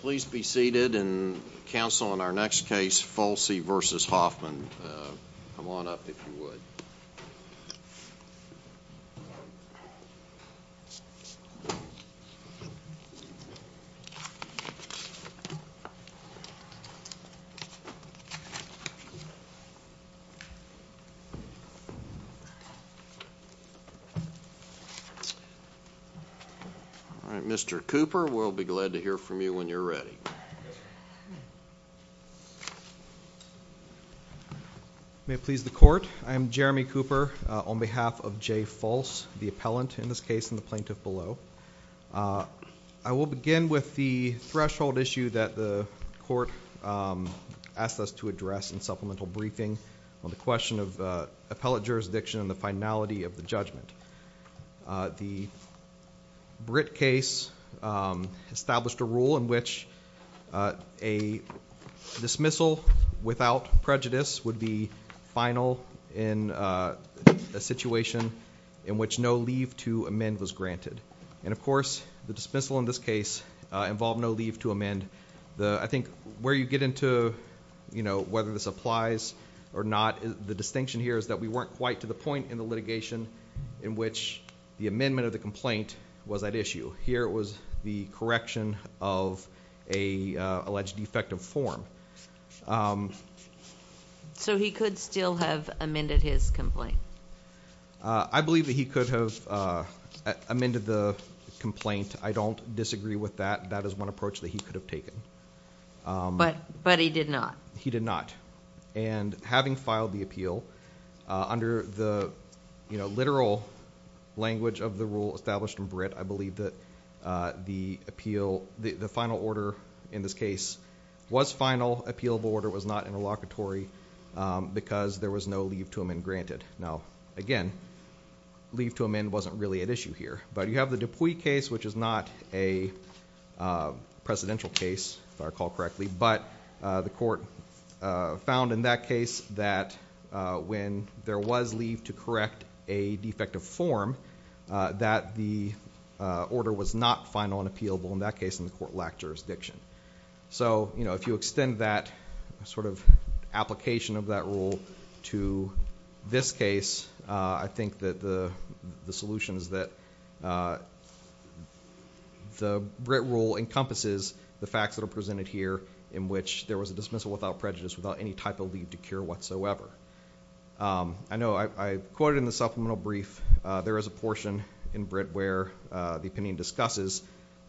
Please be seated and counsel on our next case, Folse v. Hoffman. Come on up if you would. All right, Mr. Cooper, we'll be glad to hear from you when you're ready. May it please the Court, I am Jeremy Cooper on behalf of J. Folse, the appellant in this case and the plaintiff below. I will begin with the threshold issue that the Court asked us to address in supplemental briefing on the question of appellate jurisdiction and the finality of the judgment. The Britt case established a rule in which a dismissal without prejudice would be final in a situation in which no leave to amend was granted. And of course, the dismissal in this case involved no leave to amend. And I think where you get into whether this applies or not, the distinction here is that we weren't quite to the point in the litigation in which the amendment of the complaint was at issue. Here it was the correction of an alleged defective form. So he could still have amended his complaint? I believe that he could have amended the complaint. I don't disagree with that. That is one approach that he could have taken. But he did not? He did not. And having filed the appeal, under the literal language of the rule established in Britt, I believe that the appeal, the final order in this case was final. The final appealable order was not interlocutory because there was no leave to amend granted. Now, again, leave to amend wasn't really at issue here. But you have the Dupuy case, which is not a presidential case, if I recall correctly. But the Court found in that case that when there was leave to correct a defective form, that the order was not final and appealable. In that case, the Court lacked jurisdiction. So if you extend that sort of application of that rule to this case, I think that the solution is that the Britt rule encompasses the facts that are presented here, in which there was a dismissal without prejudice, without any type of leave to cure whatsoever. I know I quoted in the supplemental brief, there is a portion in Britt where the opinion discusses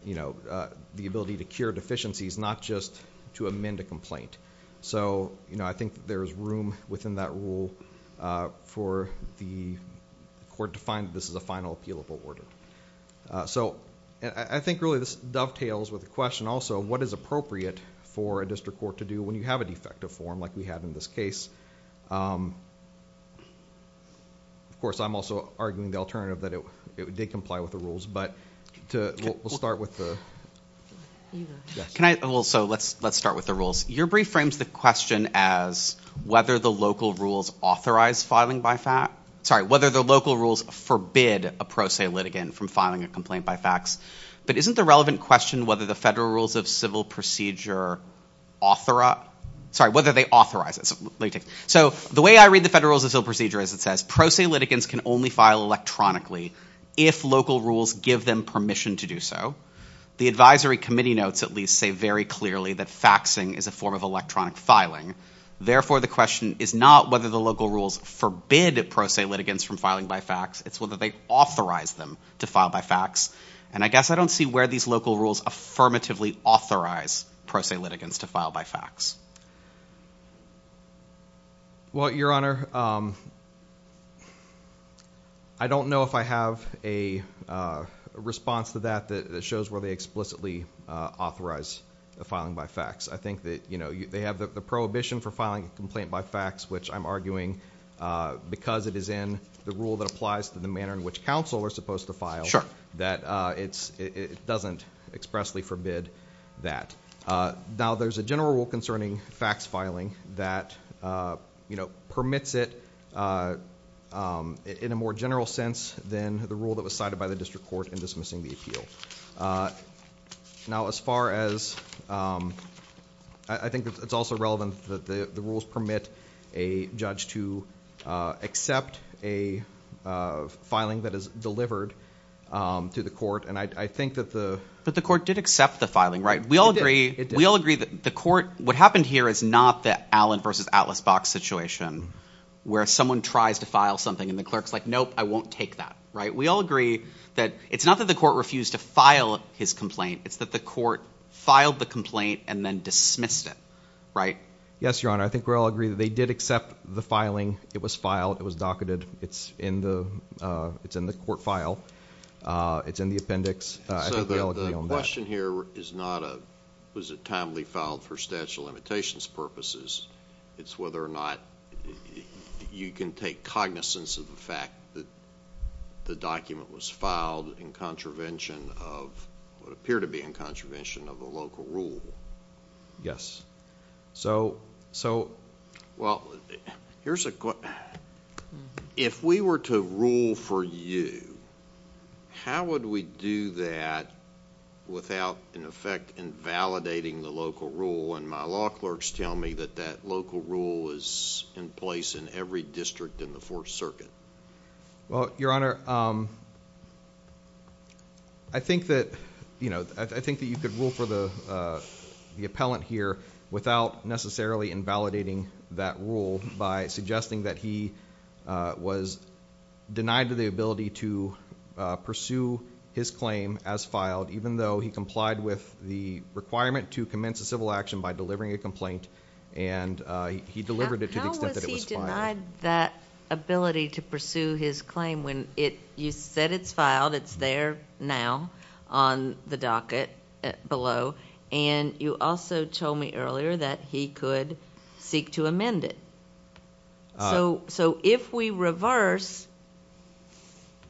the ability to cure deficiencies, not just to amend a complaint. So I think there is room within that rule for the Court to find that this is a final appealable order. So I think really this dovetails with the question also of what is appropriate for a district court to do when you have a defective form like we have in this case. Of course, I'm also arguing the alternative, that it did comply with the rules. But we'll start with the... Can I also, let's start with the rules. Your brief frames the question as whether the local rules authorize filing by fact. Sorry, whether the local rules forbid a pro se litigant from filing a complaint by fax. But isn't the relevant question whether the federal rules of civil procedure authorize. Sorry, whether they authorize. So the way I read the federal rules of civil procedure is it says pro se litigants can only file electronically if local rules give them permission to do so. The advisory committee notes at least say very clearly that faxing is a form of electronic filing. Therefore, the question is not whether the local rules forbid pro se litigants from filing by fax. It's whether they authorize them to file by fax. And I guess I don't see where these local rules affirmatively authorize pro se litigants to file by fax. Well, Your Honor, I don't know if I have a response to that that shows where they explicitly authorize the filing by fax. I think that, you know, they have the prohibition for filing a complaint by fax, which I'm arguing because it is in the rule that applies to the manner in which counsel are supposed to file. That it doesn't expressly forbid that. Now, there's a general rule concerning fax filing that, you know, permits it in a more general sense than the rule that was cited by the district court in dismissing the appeal. Now, as far as I think it's also relevant that the rules permit a judge to accept a filing that is delivered to the court. And I think that the. But the court did accept the filing, right? We all agree. We all agree that the court. What happened here is not that Allen versus Atlas box situation where someone tries to file something and the clerk's like, nope, I won't take that. Right. We all agree that it's not that the court refused to file his complaint. It's that the court filed the complaint and then dismissed it. Right. Yes, Your Honor. I think we all agree that they did accept the filing. It was filed. It was docketed. It's in the it's in the court file. It's in the appendix. I think we all agree on that. So the question here is not a was it timely filed for statute of limitations purposes. It's whether or not you can take cognizance of the fact that the document was filed in contravention of what appear to be in contravention of the local rule. Yes. So, so... Well, here's a question. If we were to rule for you, how would we do that without in effect invalidating the local rule when my law clerks tell me that that local rule is in place in every district in the Fourth Circuit? Well, Your Honor, I think that, you know, I think that you could rule for the appellant here without necessarily invalidating that rule by suggesting that he was denied the ability to pursue his claim as filed even though he complied with the requirement to commence a civil action by delivering a complaint and he delivered it to the extent that it was filed. He denied that ability to pursue his claim when you said it's filed. It's there now on the docket below. And you also told me earlier that he could seek to amend it. So if we reverse,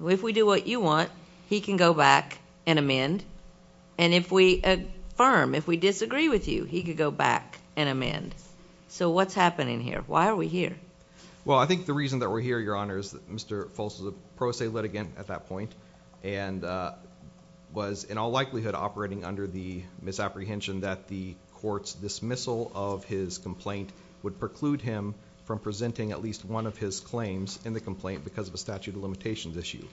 if we do what you want, he can go back and amend. And if we affirm, if we disagree with you, he could go back and amend. So what's happening here? Why are we here? Well, I think the reason that we're here, Your Honor, is that Mr. Foltz was a pro se litigant at that point and was in all likelihood operating under the misapprehension that the court's dismissal of his complaint would preclude him from presenting at least one of his claims in the complaint because of a statute of limitations issue.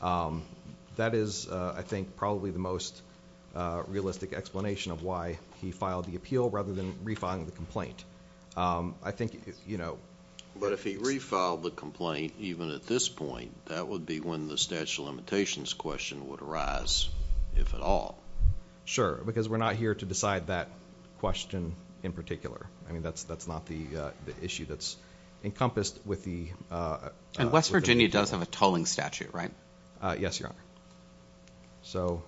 That is, I think, probably the most realistic explanation of why he filed the appeal rather than refiling the complaint. I think, you know... But if he refiled the complaint, even at this point, that would be when the statute of limitations question would arise, if at all. Sure, because we're not here to decide that question in particular. I mean, that's not the issue that's encompassed with the... And West Virginia does have a tolling statute, right? Yes, Your Honor. So,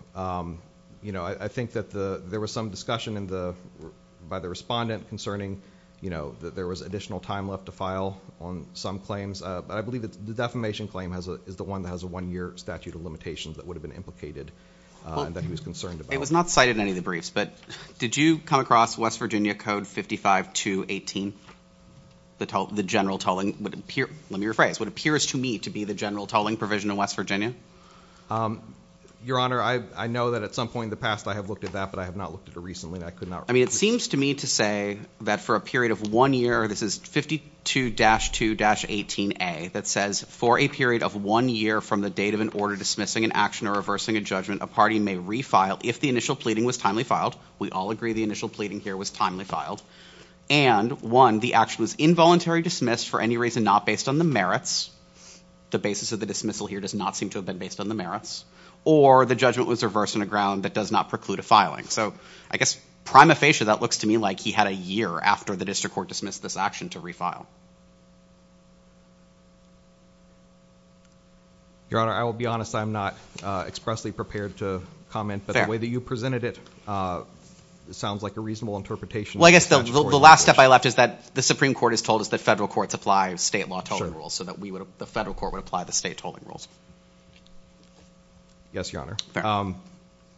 you know, I think that there was some discussion by the respondent concerning, you know, that there was additional time left to file on some claims. But I believe the defamation claim is the one that has a one-year statute of limitations that would have been implicated and that he was concerned about. It was not cited in any of the briefs, but did you come across West Virginia Code 55218, the general tolling... let me rephrase... what appears to me to be the general tolling provision in West Virginia? Your Honor, I know that at some point in the past I have looked at that, but I have not looked at it recently and I could not... I mean, it seems to me to say that for a period of one year... This is 52-2-18A that says, for a period of one year from the date of an order dismissing an action or reversing a judgment, a party may refile if the initial pleading was timely filed. We all agree the initial pleading here was timely filed. And, one, the action was involuntary dismissed for any reason not based on the merits. The basis of the dismissal here does not seem to have been based on the merits. Or, the judgment was reversed on a ground that does not preclude a filing. So, I guess prima facie, that looks to me like he had a year after the district court dismissed this action to refile. Your Honor, I will be honest. I am not expressly prepared to comment. Fair. But the way that you presented it sounds like a reasonable interpretation. Well, I guess the last step I left is that the Supreme Court has told us that federal courts apply state law tolling rules. So that we would... the federal court would apply the state tolling rules. Yes, Your Honor. Fair.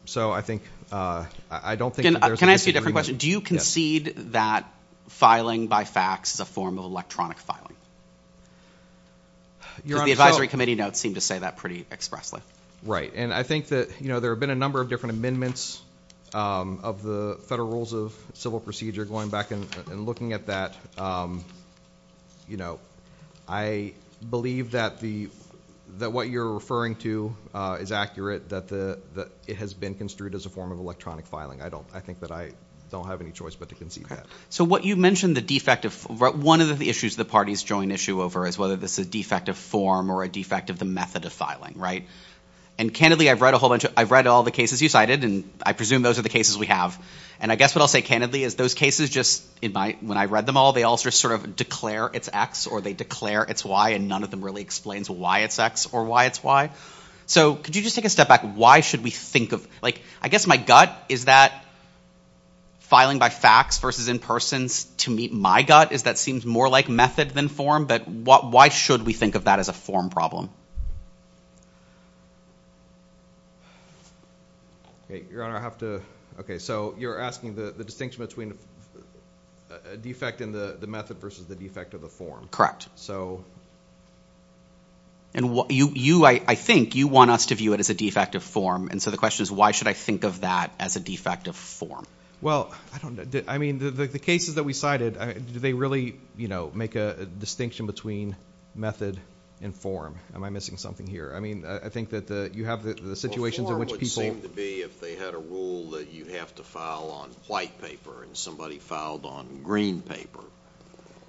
So, I think... I don't think... Can I ask you a different question? Yes. Do you concede that filing by fax is a form of electronic filing? Your Honor, so... The advisory committee notes seem to say that pretty expressly. Right. And, I think that, you know, there have been a number of different amendments of the Federal Rules of Civil Procedure. Going back and looking at that, you know, I believe that the... that what you're referring to is accurate. That it has been construed as a form of electronic filing. I don't... I think that I don't have any choice but to concede that. Okay. So, what you mentioned, the defect of... one of the issues the parties join issue over is whether this is a defect of form or a defect of the method of filing, right? And, candidly, I've read a whole bunch of... I've read all the cases you cited. And, I presume those are the cases we have. And, I guess what I'll say candidly is those cases just... when I read them all, they all just sort of declare it's X or they declare it's Y. And, none of them really explains why it's X or why it's Y. So, could you just take a step back? Why should we think of... Like, I guess my gut is that filing by fax versus in person to meet my gut is that seems more like method than form. But, why should we think of that as a form problem? Okay. Your Honor, I have to... Okay. So, you're asking the distinction between a defect in the method versus the defect of the form. Correct. So... And, you... I think you want us to view it as a defect of form. And so, the question is why should I think of that as a defect of form? Well, I don't... I mean, the cases that we cited, do they really, you know, make a distinction between method and form? Am I missing something here? I mean, I think that you have the situations in which people... Well, form would seem to be if they had a rule that you have to file on white paper and somebody filed on green paper,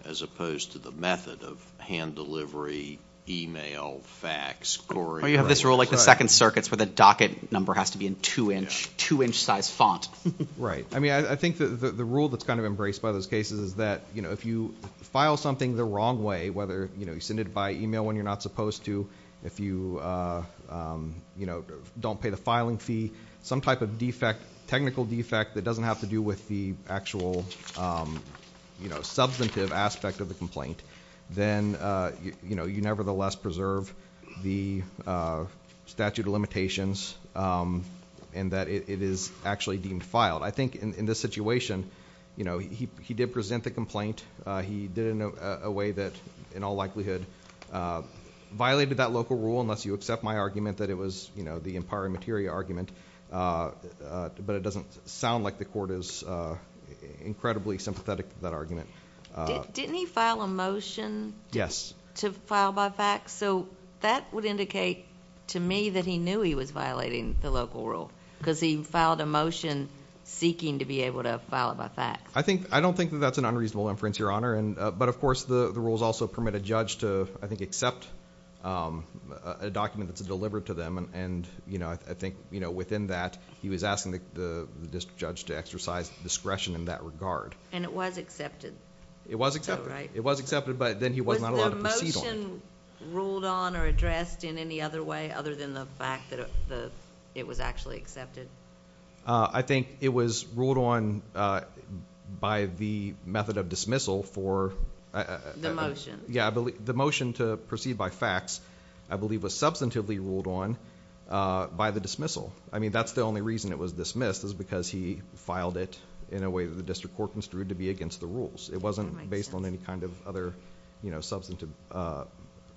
as opposed to the method of hand delivery, e-mail, fax, scoring... Oh, you have this rule like the second circuits where the docket number has to be in two-inch size font. Right. I mean, I think the rule that's kind of embraced by those cases is that, you know, if you file something the wrong way, whether, you know, you send it by e-mail when you're not supposed to, if you, you know, don't pay the filing fee, some type of defect, technical defect that doesn't have to do with the actual, you know, substantive aspect of the complaint, then, you know, you nevertheless preserve the statute of limitations and that it is actually deemed filed. I think in this situation, you know, he did present the complaint. He did it in a way that in all likelihood violated that local rule, unless you accept my argument that it was, you know, the Empire of Materia argument, but it doesn't sound like the court is incredibly sympathetic to that argument. Didn't he file a motion... Yes.... to file by fax? So, that would indicate to me that he knew he was violating the local rule because he filed a motion seeking to be able to file by fax. I don't think that that's an unreasonable inference, Your Honor, but, of course, the rules also permit a judge to, I think, accept a document that's delivered to them, and, you know, I think, you know, within that, he was asking the district judge to exercise discretion in that regard. And it was accepted. It was accepted. So, right. It was accepted, but then he was not allowed to proceed on it. Was the motion ruled on or addressed in any other way other than the fact that it was actually accepted? I think it was ruled on by the method of dismissal for... Yeah. The motion to proceed by fax, I believe, was substantively ruled on by the dismissal. I mean, that's the only reason it was dismissed is because he filed it in a way that the district court construed to be against the rules. It wasn't based on any kind of other, you know, substantive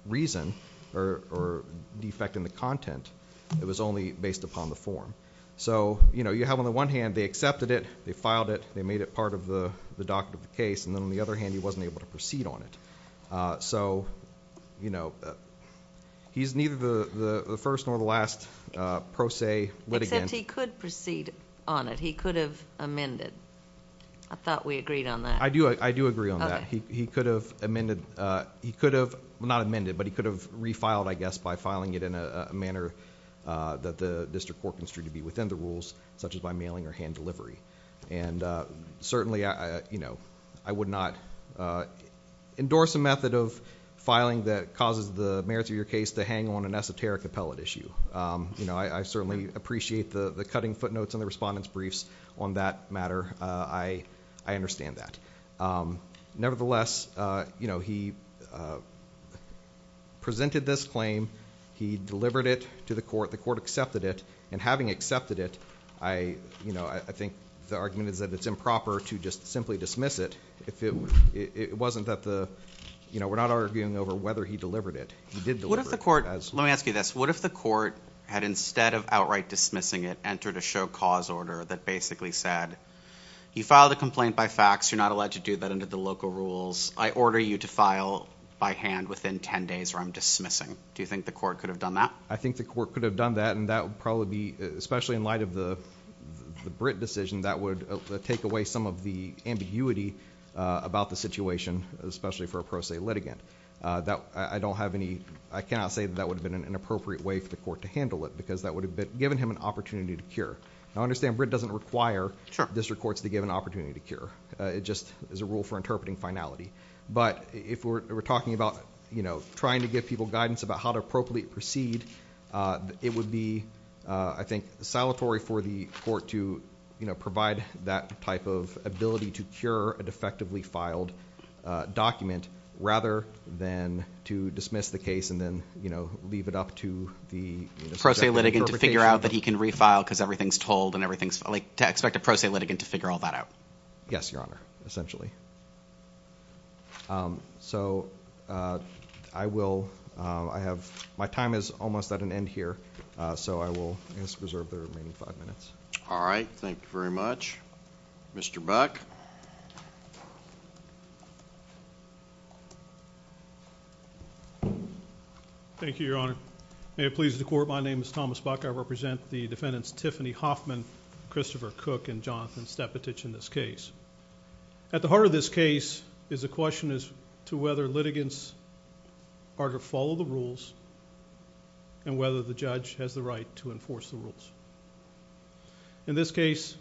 reason or defect in the content. It was only based upon the form. So, you know, you have, on the one hand, they accepted it, they filed it, they made it part of the document of the case, and then, on the other hand, he wasn't able to proceed on it. So, you know, he's neither the first nor the last pro se litigant... Except he could proceed on it. He could have amended. I thought we agreed on that. I do agree on that. Okay. He could have amended... he could have... well, not amended, but he could have refiled, I guess, by filing it in a manner that the district court construed to be within the rules, such as by mailing or hand delivery. And certainly, you know, I would not endorse a method of filing that causes the merits of your case to hang on an esoteric appellate issue. You know, I certainly appreciate the cutting footnotes on the respondent's briefs on that matter. I understand that. Nevertheless, you know, he presented this claim. He delivered it to the court. The court accepted it. And having accepted it, you know, I think the argument is that it's improper to just simply dismiss it. It wasn't that the... you know, we're not arguing over whether he delivered it. He did deliver it as... What if the court... let me ask you this. What if the court had, instead of outright dismissing it, entered a show cause order that basically said, okay, you filed a complaint by fax. You're not allowed to do that under the local rules. I order you to file by hand within 10 days or I'm dismissing. Do you think the court could have done that? I think the court could have done that, and that would probably be... especially in light of the Britt decision, that would take away some of the ambiguity about the situation, especially for a pro se litigant. That... I don't have any... I cannot say that that would have been an appropriate way for the court to handle it, because that would have given him an opportunity to cure. I understand Britt doesn't require district courts to give an opportunity to cure. It just is a rule for interpreting finality. But if we're talking about, you know, trying to give people guidance about how to appropriately proceed, it would be, I think, salutary for the court to, you know, provide that type of ability to cure a defectively filed document rather than to dismiss the case and then, you know, leave it up to the... to expect a pro se litigant to figure all that out. Yes, Your Honor, essentially. So I will... I have... my time is almost at an end here, so I will reserve the remaining five minutes. All right. Thank you very much. Mr. Buck. Thank you, Your Honor. May it please the Court, my name is Thomas Buck. I represent the defendants Tiffany Hoffman, Christopher Cook, and Jonathan Stepatic in this case. At the heart of this case is a question as to whether litigants are to follow the rules and whether the judge has the right to enforce the rules. In this case,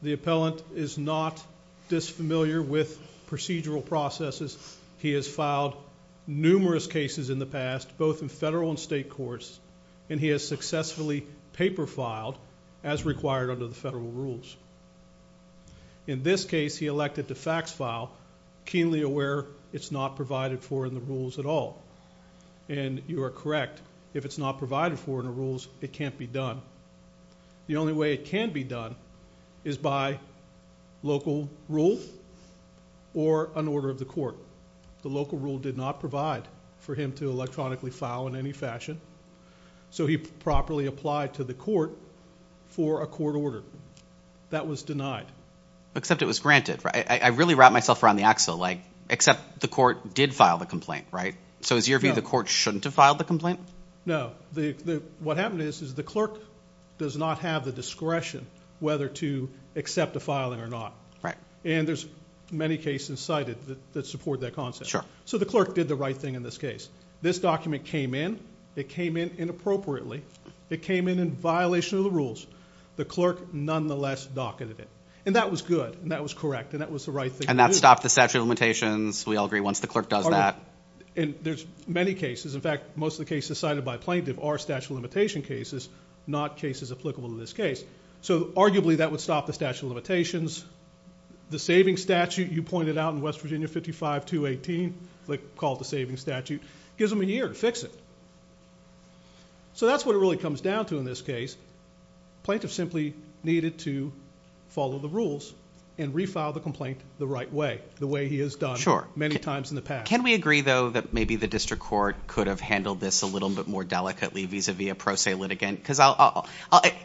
the appellant is not disfamiliar with procedural processes. He has filed numerous cases in the past, both in federal and state courts, and he has successfully paper filed as required under the federal rules. In this case, he elected to fax file, keenly aware it's not provided for in the rules at all. And you are correct, if it's not provided for in the rules, it can't be done. The only way it can be done is by local rule or an order of the court. The local rule did not provide for him to electronically file in any fashion, so he properly applied to the court for a court order. That was denied. Except it was granted. I really wrapped myself around the axle, like except the court did file the complaint, right? So is your view the court shouldn't have filed the complaint? No. What happened is the clerk does not have the discretion whether to accept a filing or not. Right. And there's many cases cited that support that concept. So the clerk did the right thing in this case. This document came in. It came in inappropriately. It came in in violation of the rules. The clerk nonetheless docketed it. And that was good, and that was correct, and that was the right thing to do. And that stopped the statute of limitations. We all agree once the clerk does that. And there's many cases. In fact, most of the cases cited by plaintiff are statute of limitation cases, not cases applicable to this case. So arguably that would stop the statute of limitations. The savings statute you pointed out in West Virginia 55218, they call it the savings statute, gives them a year to fix it. So that's what it really comes down to in this case. Plaintiff simply needed to follow the rules and refile the complaint the right way, the way he has done many times in the past. Can we agree, though, that maybe the district court could have handled this a little bit more delicately vis-à-vis a pro se litigant?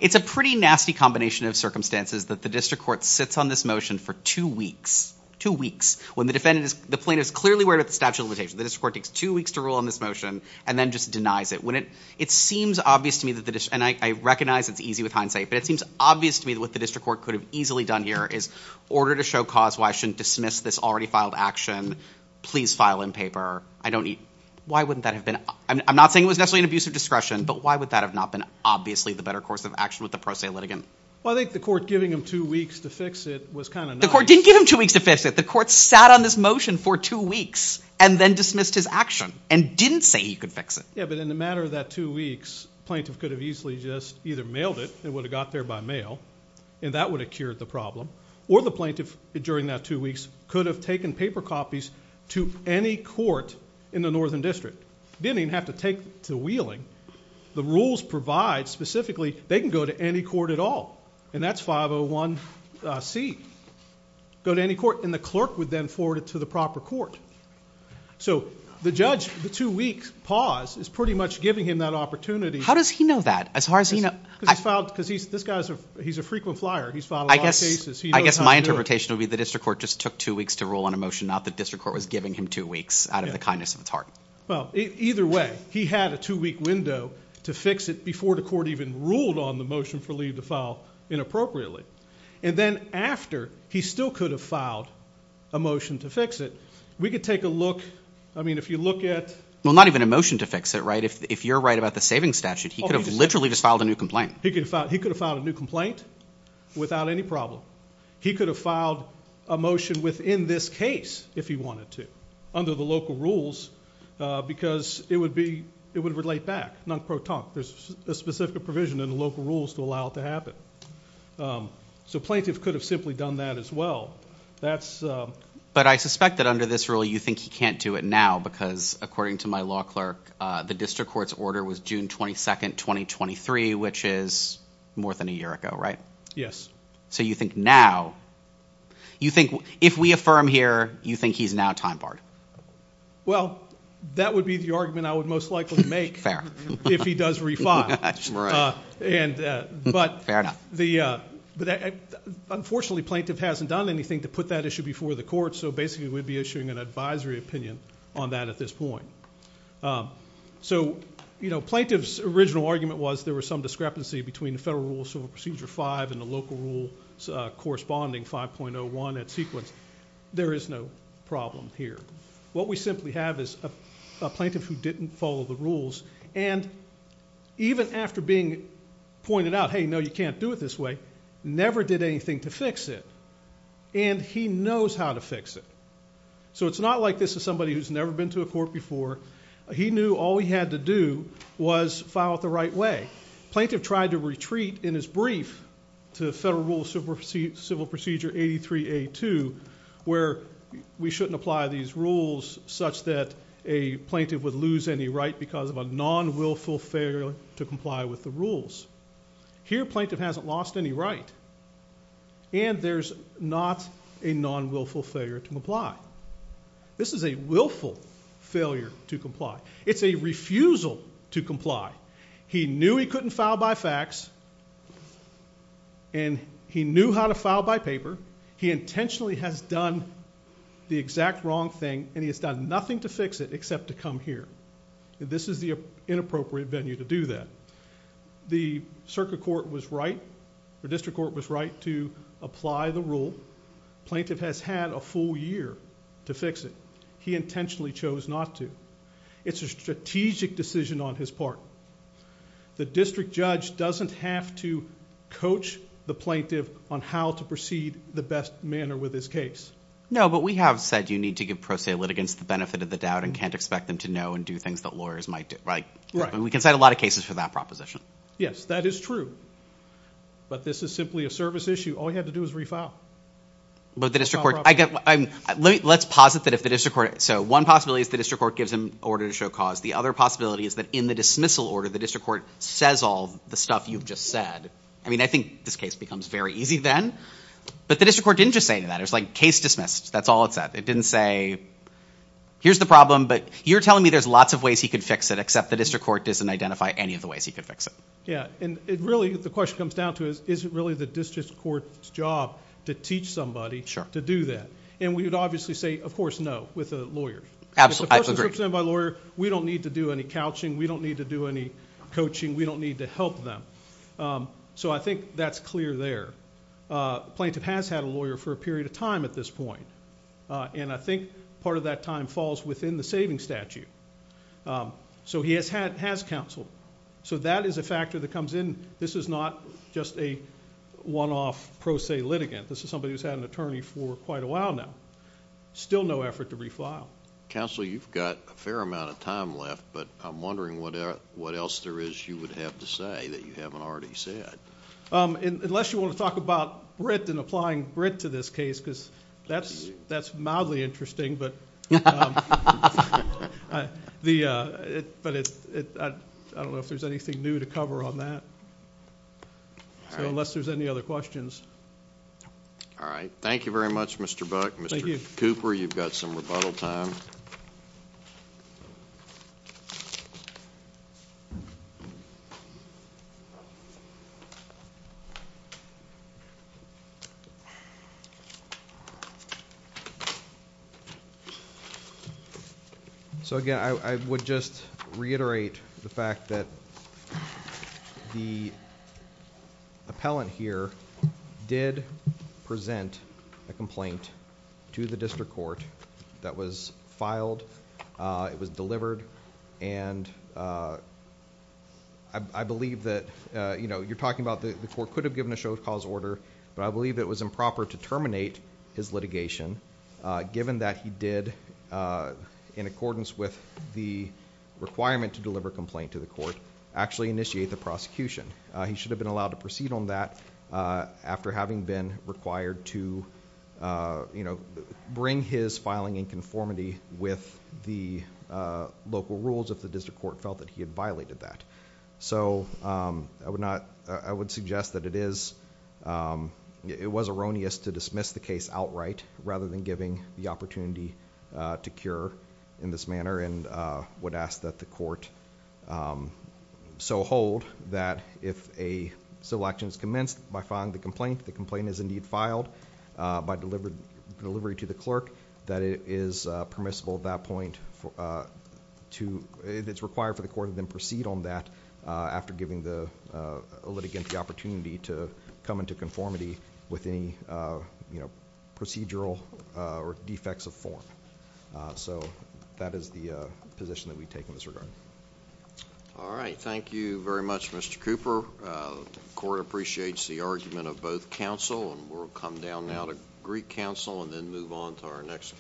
It's a pretty nasty combination of circumstances that the district court sits on this motion for two weeks, two weeks, when the plaintiff is clearly aware of the statute of limitation. The district court takes two weeks to rule on this motion and then just denies it. It seems obvious to me, and I recognize it's easy with hindsight, but it seems obvious to me that what the district court could have easily done here is ordered a show cause why I shouldn't dismiss this already filed action. Please file in paper. Why wouldn't that have been? I'm not saying it was necessarily an abuse of discretion, but why would that have not been obviously the better course of action with the pro se litigant? Well, I think the court giving him two weeks to fix it was kind of nice. The court didn't give him two weeks to fix it. The court sat on this motion for two weeks and then dismissed his action and didn't say he could fix it. Yeah, but in a matter of that two weeks, plaintiff could have easily just either mailed it, it would have got there by mail, and that would have cured the problem, or the plaintiff during that two weeks could have taken paper copies to any court in the northern district. He didn't even have to take to Wheeling. The rules provide specifically they can go to any court at all, and that's 501C. Go to any court, and the clerk would then forward it to the proper court. So the judge, the two-week pause is pretty much giving him that opportunity. How does he know that as far as he knows? Because he's a frequent flyer. He's filed a lot of cases. I guess my interpretation would be the district court just took two weeks to rule on a motion, not that district court was giving him two weeks out of the kindness of its heart. Well, either way, he had a two-week window to fix it before the court even ruled on the motion for leave to file inappropriately. And then after, he still could have filed a motion to fix it. We could take a look. I mean, if you look at— Well, not even a motion to fix it, right? If you're right about the savings statute, he could have literally just filed a new complaint. He could have filed a new complaint without any problem. He could have filed a motion within this case if he wanted to under the local rules because it would relate back. Non-pro tonque. There's a specific provision in the local rules to allow it to happen. So plaintiff could have simply done that as well. But I suspect that under this rule, you think he can't do it now because according to my law clerk, the district court's order was June 22, 2023, which is more than a year ago, right? Yes. So you think now, you think if we affirm here, you think he's now time barred? Well, that would be the argument I would most likely make if he does re-file. Fair enough. But unfortunately, plaintiff hasn't done anything to put that issue before the court, so basically we'd be issuing an advisory opinion on that at this point. So plaintiff's original argument was there was some discrepancy between the Federal Rule of Civil Procedure 5 and the local rule corresponding 5.01 at sequence. There is no problem here. What we simply have is a plaintiff who didn't follow the rules and even after being pointed out, hey, no, you can't do it this way, never did anything to fix it, and he knows how to fix it. So it's not like this is somebody who's never been to a court before. He knew all he had to do was file it the right way. Plaintiff tried to retreat in his brief to Federal Rule of Civil Procedure 83A2 where we shouldn't apply these rules such that a plaintiff would lose any right because of a non-willful failure to comply with the rules. Here plaintiff hasn't lost any right, and there's not a non-willful failure to comply. This is a willful failure to comply. It's a refusal to comply. He knew he couldn't file by fax, and he knew how to file by paper. He intentionally has done the exact wrong thing, and he has done nothing to fix it except to come here. This is the inappropriate venue to do that. The circuit court was right or district court was right to apply the rule. Plaintiff has had a full year to fix it. He intentionally chose not to. It's a strategic decision on his part. The district judge doesn't have to coach the plaintiff on how to proceed the best manner with his case. No, but we have said you need to give pro se litigants the benefit of the doubt and can't expect them to know and do things that lawyers might do. We can cite a lot of cases for that proposition. Yes, that is true, but this is simply a service issue. All you have to do is refile. Let's posit that if the district court One possibility is the district court gives him an order to show cause. The other possibility is that in the dismissal order, the district court says all the stuff you have just said. I think this case becomes very easy then, but the district court didn't just say that. It was like case dismissed. That's all it said. It didn't say here's the problem, but you're telling me there's lots of ways he could fix it except the district court doesn't identify any of the ways he could fix it. Yes, and really the question comes down to is it really the district court's job to teach somebody to do that? We would obviously say, of course, no, with a lawyer. Absolutely, I agree. If the person is represented by a lawyer, we don't need to do any couching. We don't need to do any coaching. We don't need to help them, so I think that's clear there. The plaintiff has had a lawyer for a period of time at this point, and I think part of that time falls within the saving statute, so he has counsel, so that is a factor that comes in. This is not just a one-off pro se litigant. This is somebody who's had an attorney for quite a while now. Still no effort to refile. Counsel, you've got a fair amount of time left, but I'm wondering what else there is you would have to say that you haven't already said. Unless you want to talk about Britt and applying Britt to this case, because that's mildly interesting, but I don't know if there's anything new to cover on that. So unless there's any other questions. All right. Thank you very much, Mr. Buck. Thank you. Mr. Cooper, you've got some rebuttal time. All right. So again, I would just reiterate the fact that the appellant here did present a complaint to the district court that was filed. It was delivered, and I believe that... You're talking about the court could have given a show of cause order, but I believe it was improper to terminate his litigation, given that he did, in accordance with the requirement to deliver a complaint to the court, actually initiate the prosecution. He should have been allowed to proceed on that after having been required to bring his filing in conformity with the local rules, if the district court felt that he had violated that. So I would suggest that it was erroneous to dismiss the case outright, rather than giving the opportunity to cure in this manner, and would ask that the court so hold that if a civil action is commenced by filing the complaint, the complaint is indeed filed by delivery to the clerk, that it is permissible at that point to... If it's required for the court to then proceed on that, after giving the litigant the opportunity to come into conformity with any procedural or defects of form. So that is the position that we take in this regard. All right. Thank you very much, Mr. Cooper. The court appreciates the argument of both counsel, and we'll come down now to Greek counsel, and then move on to our next case.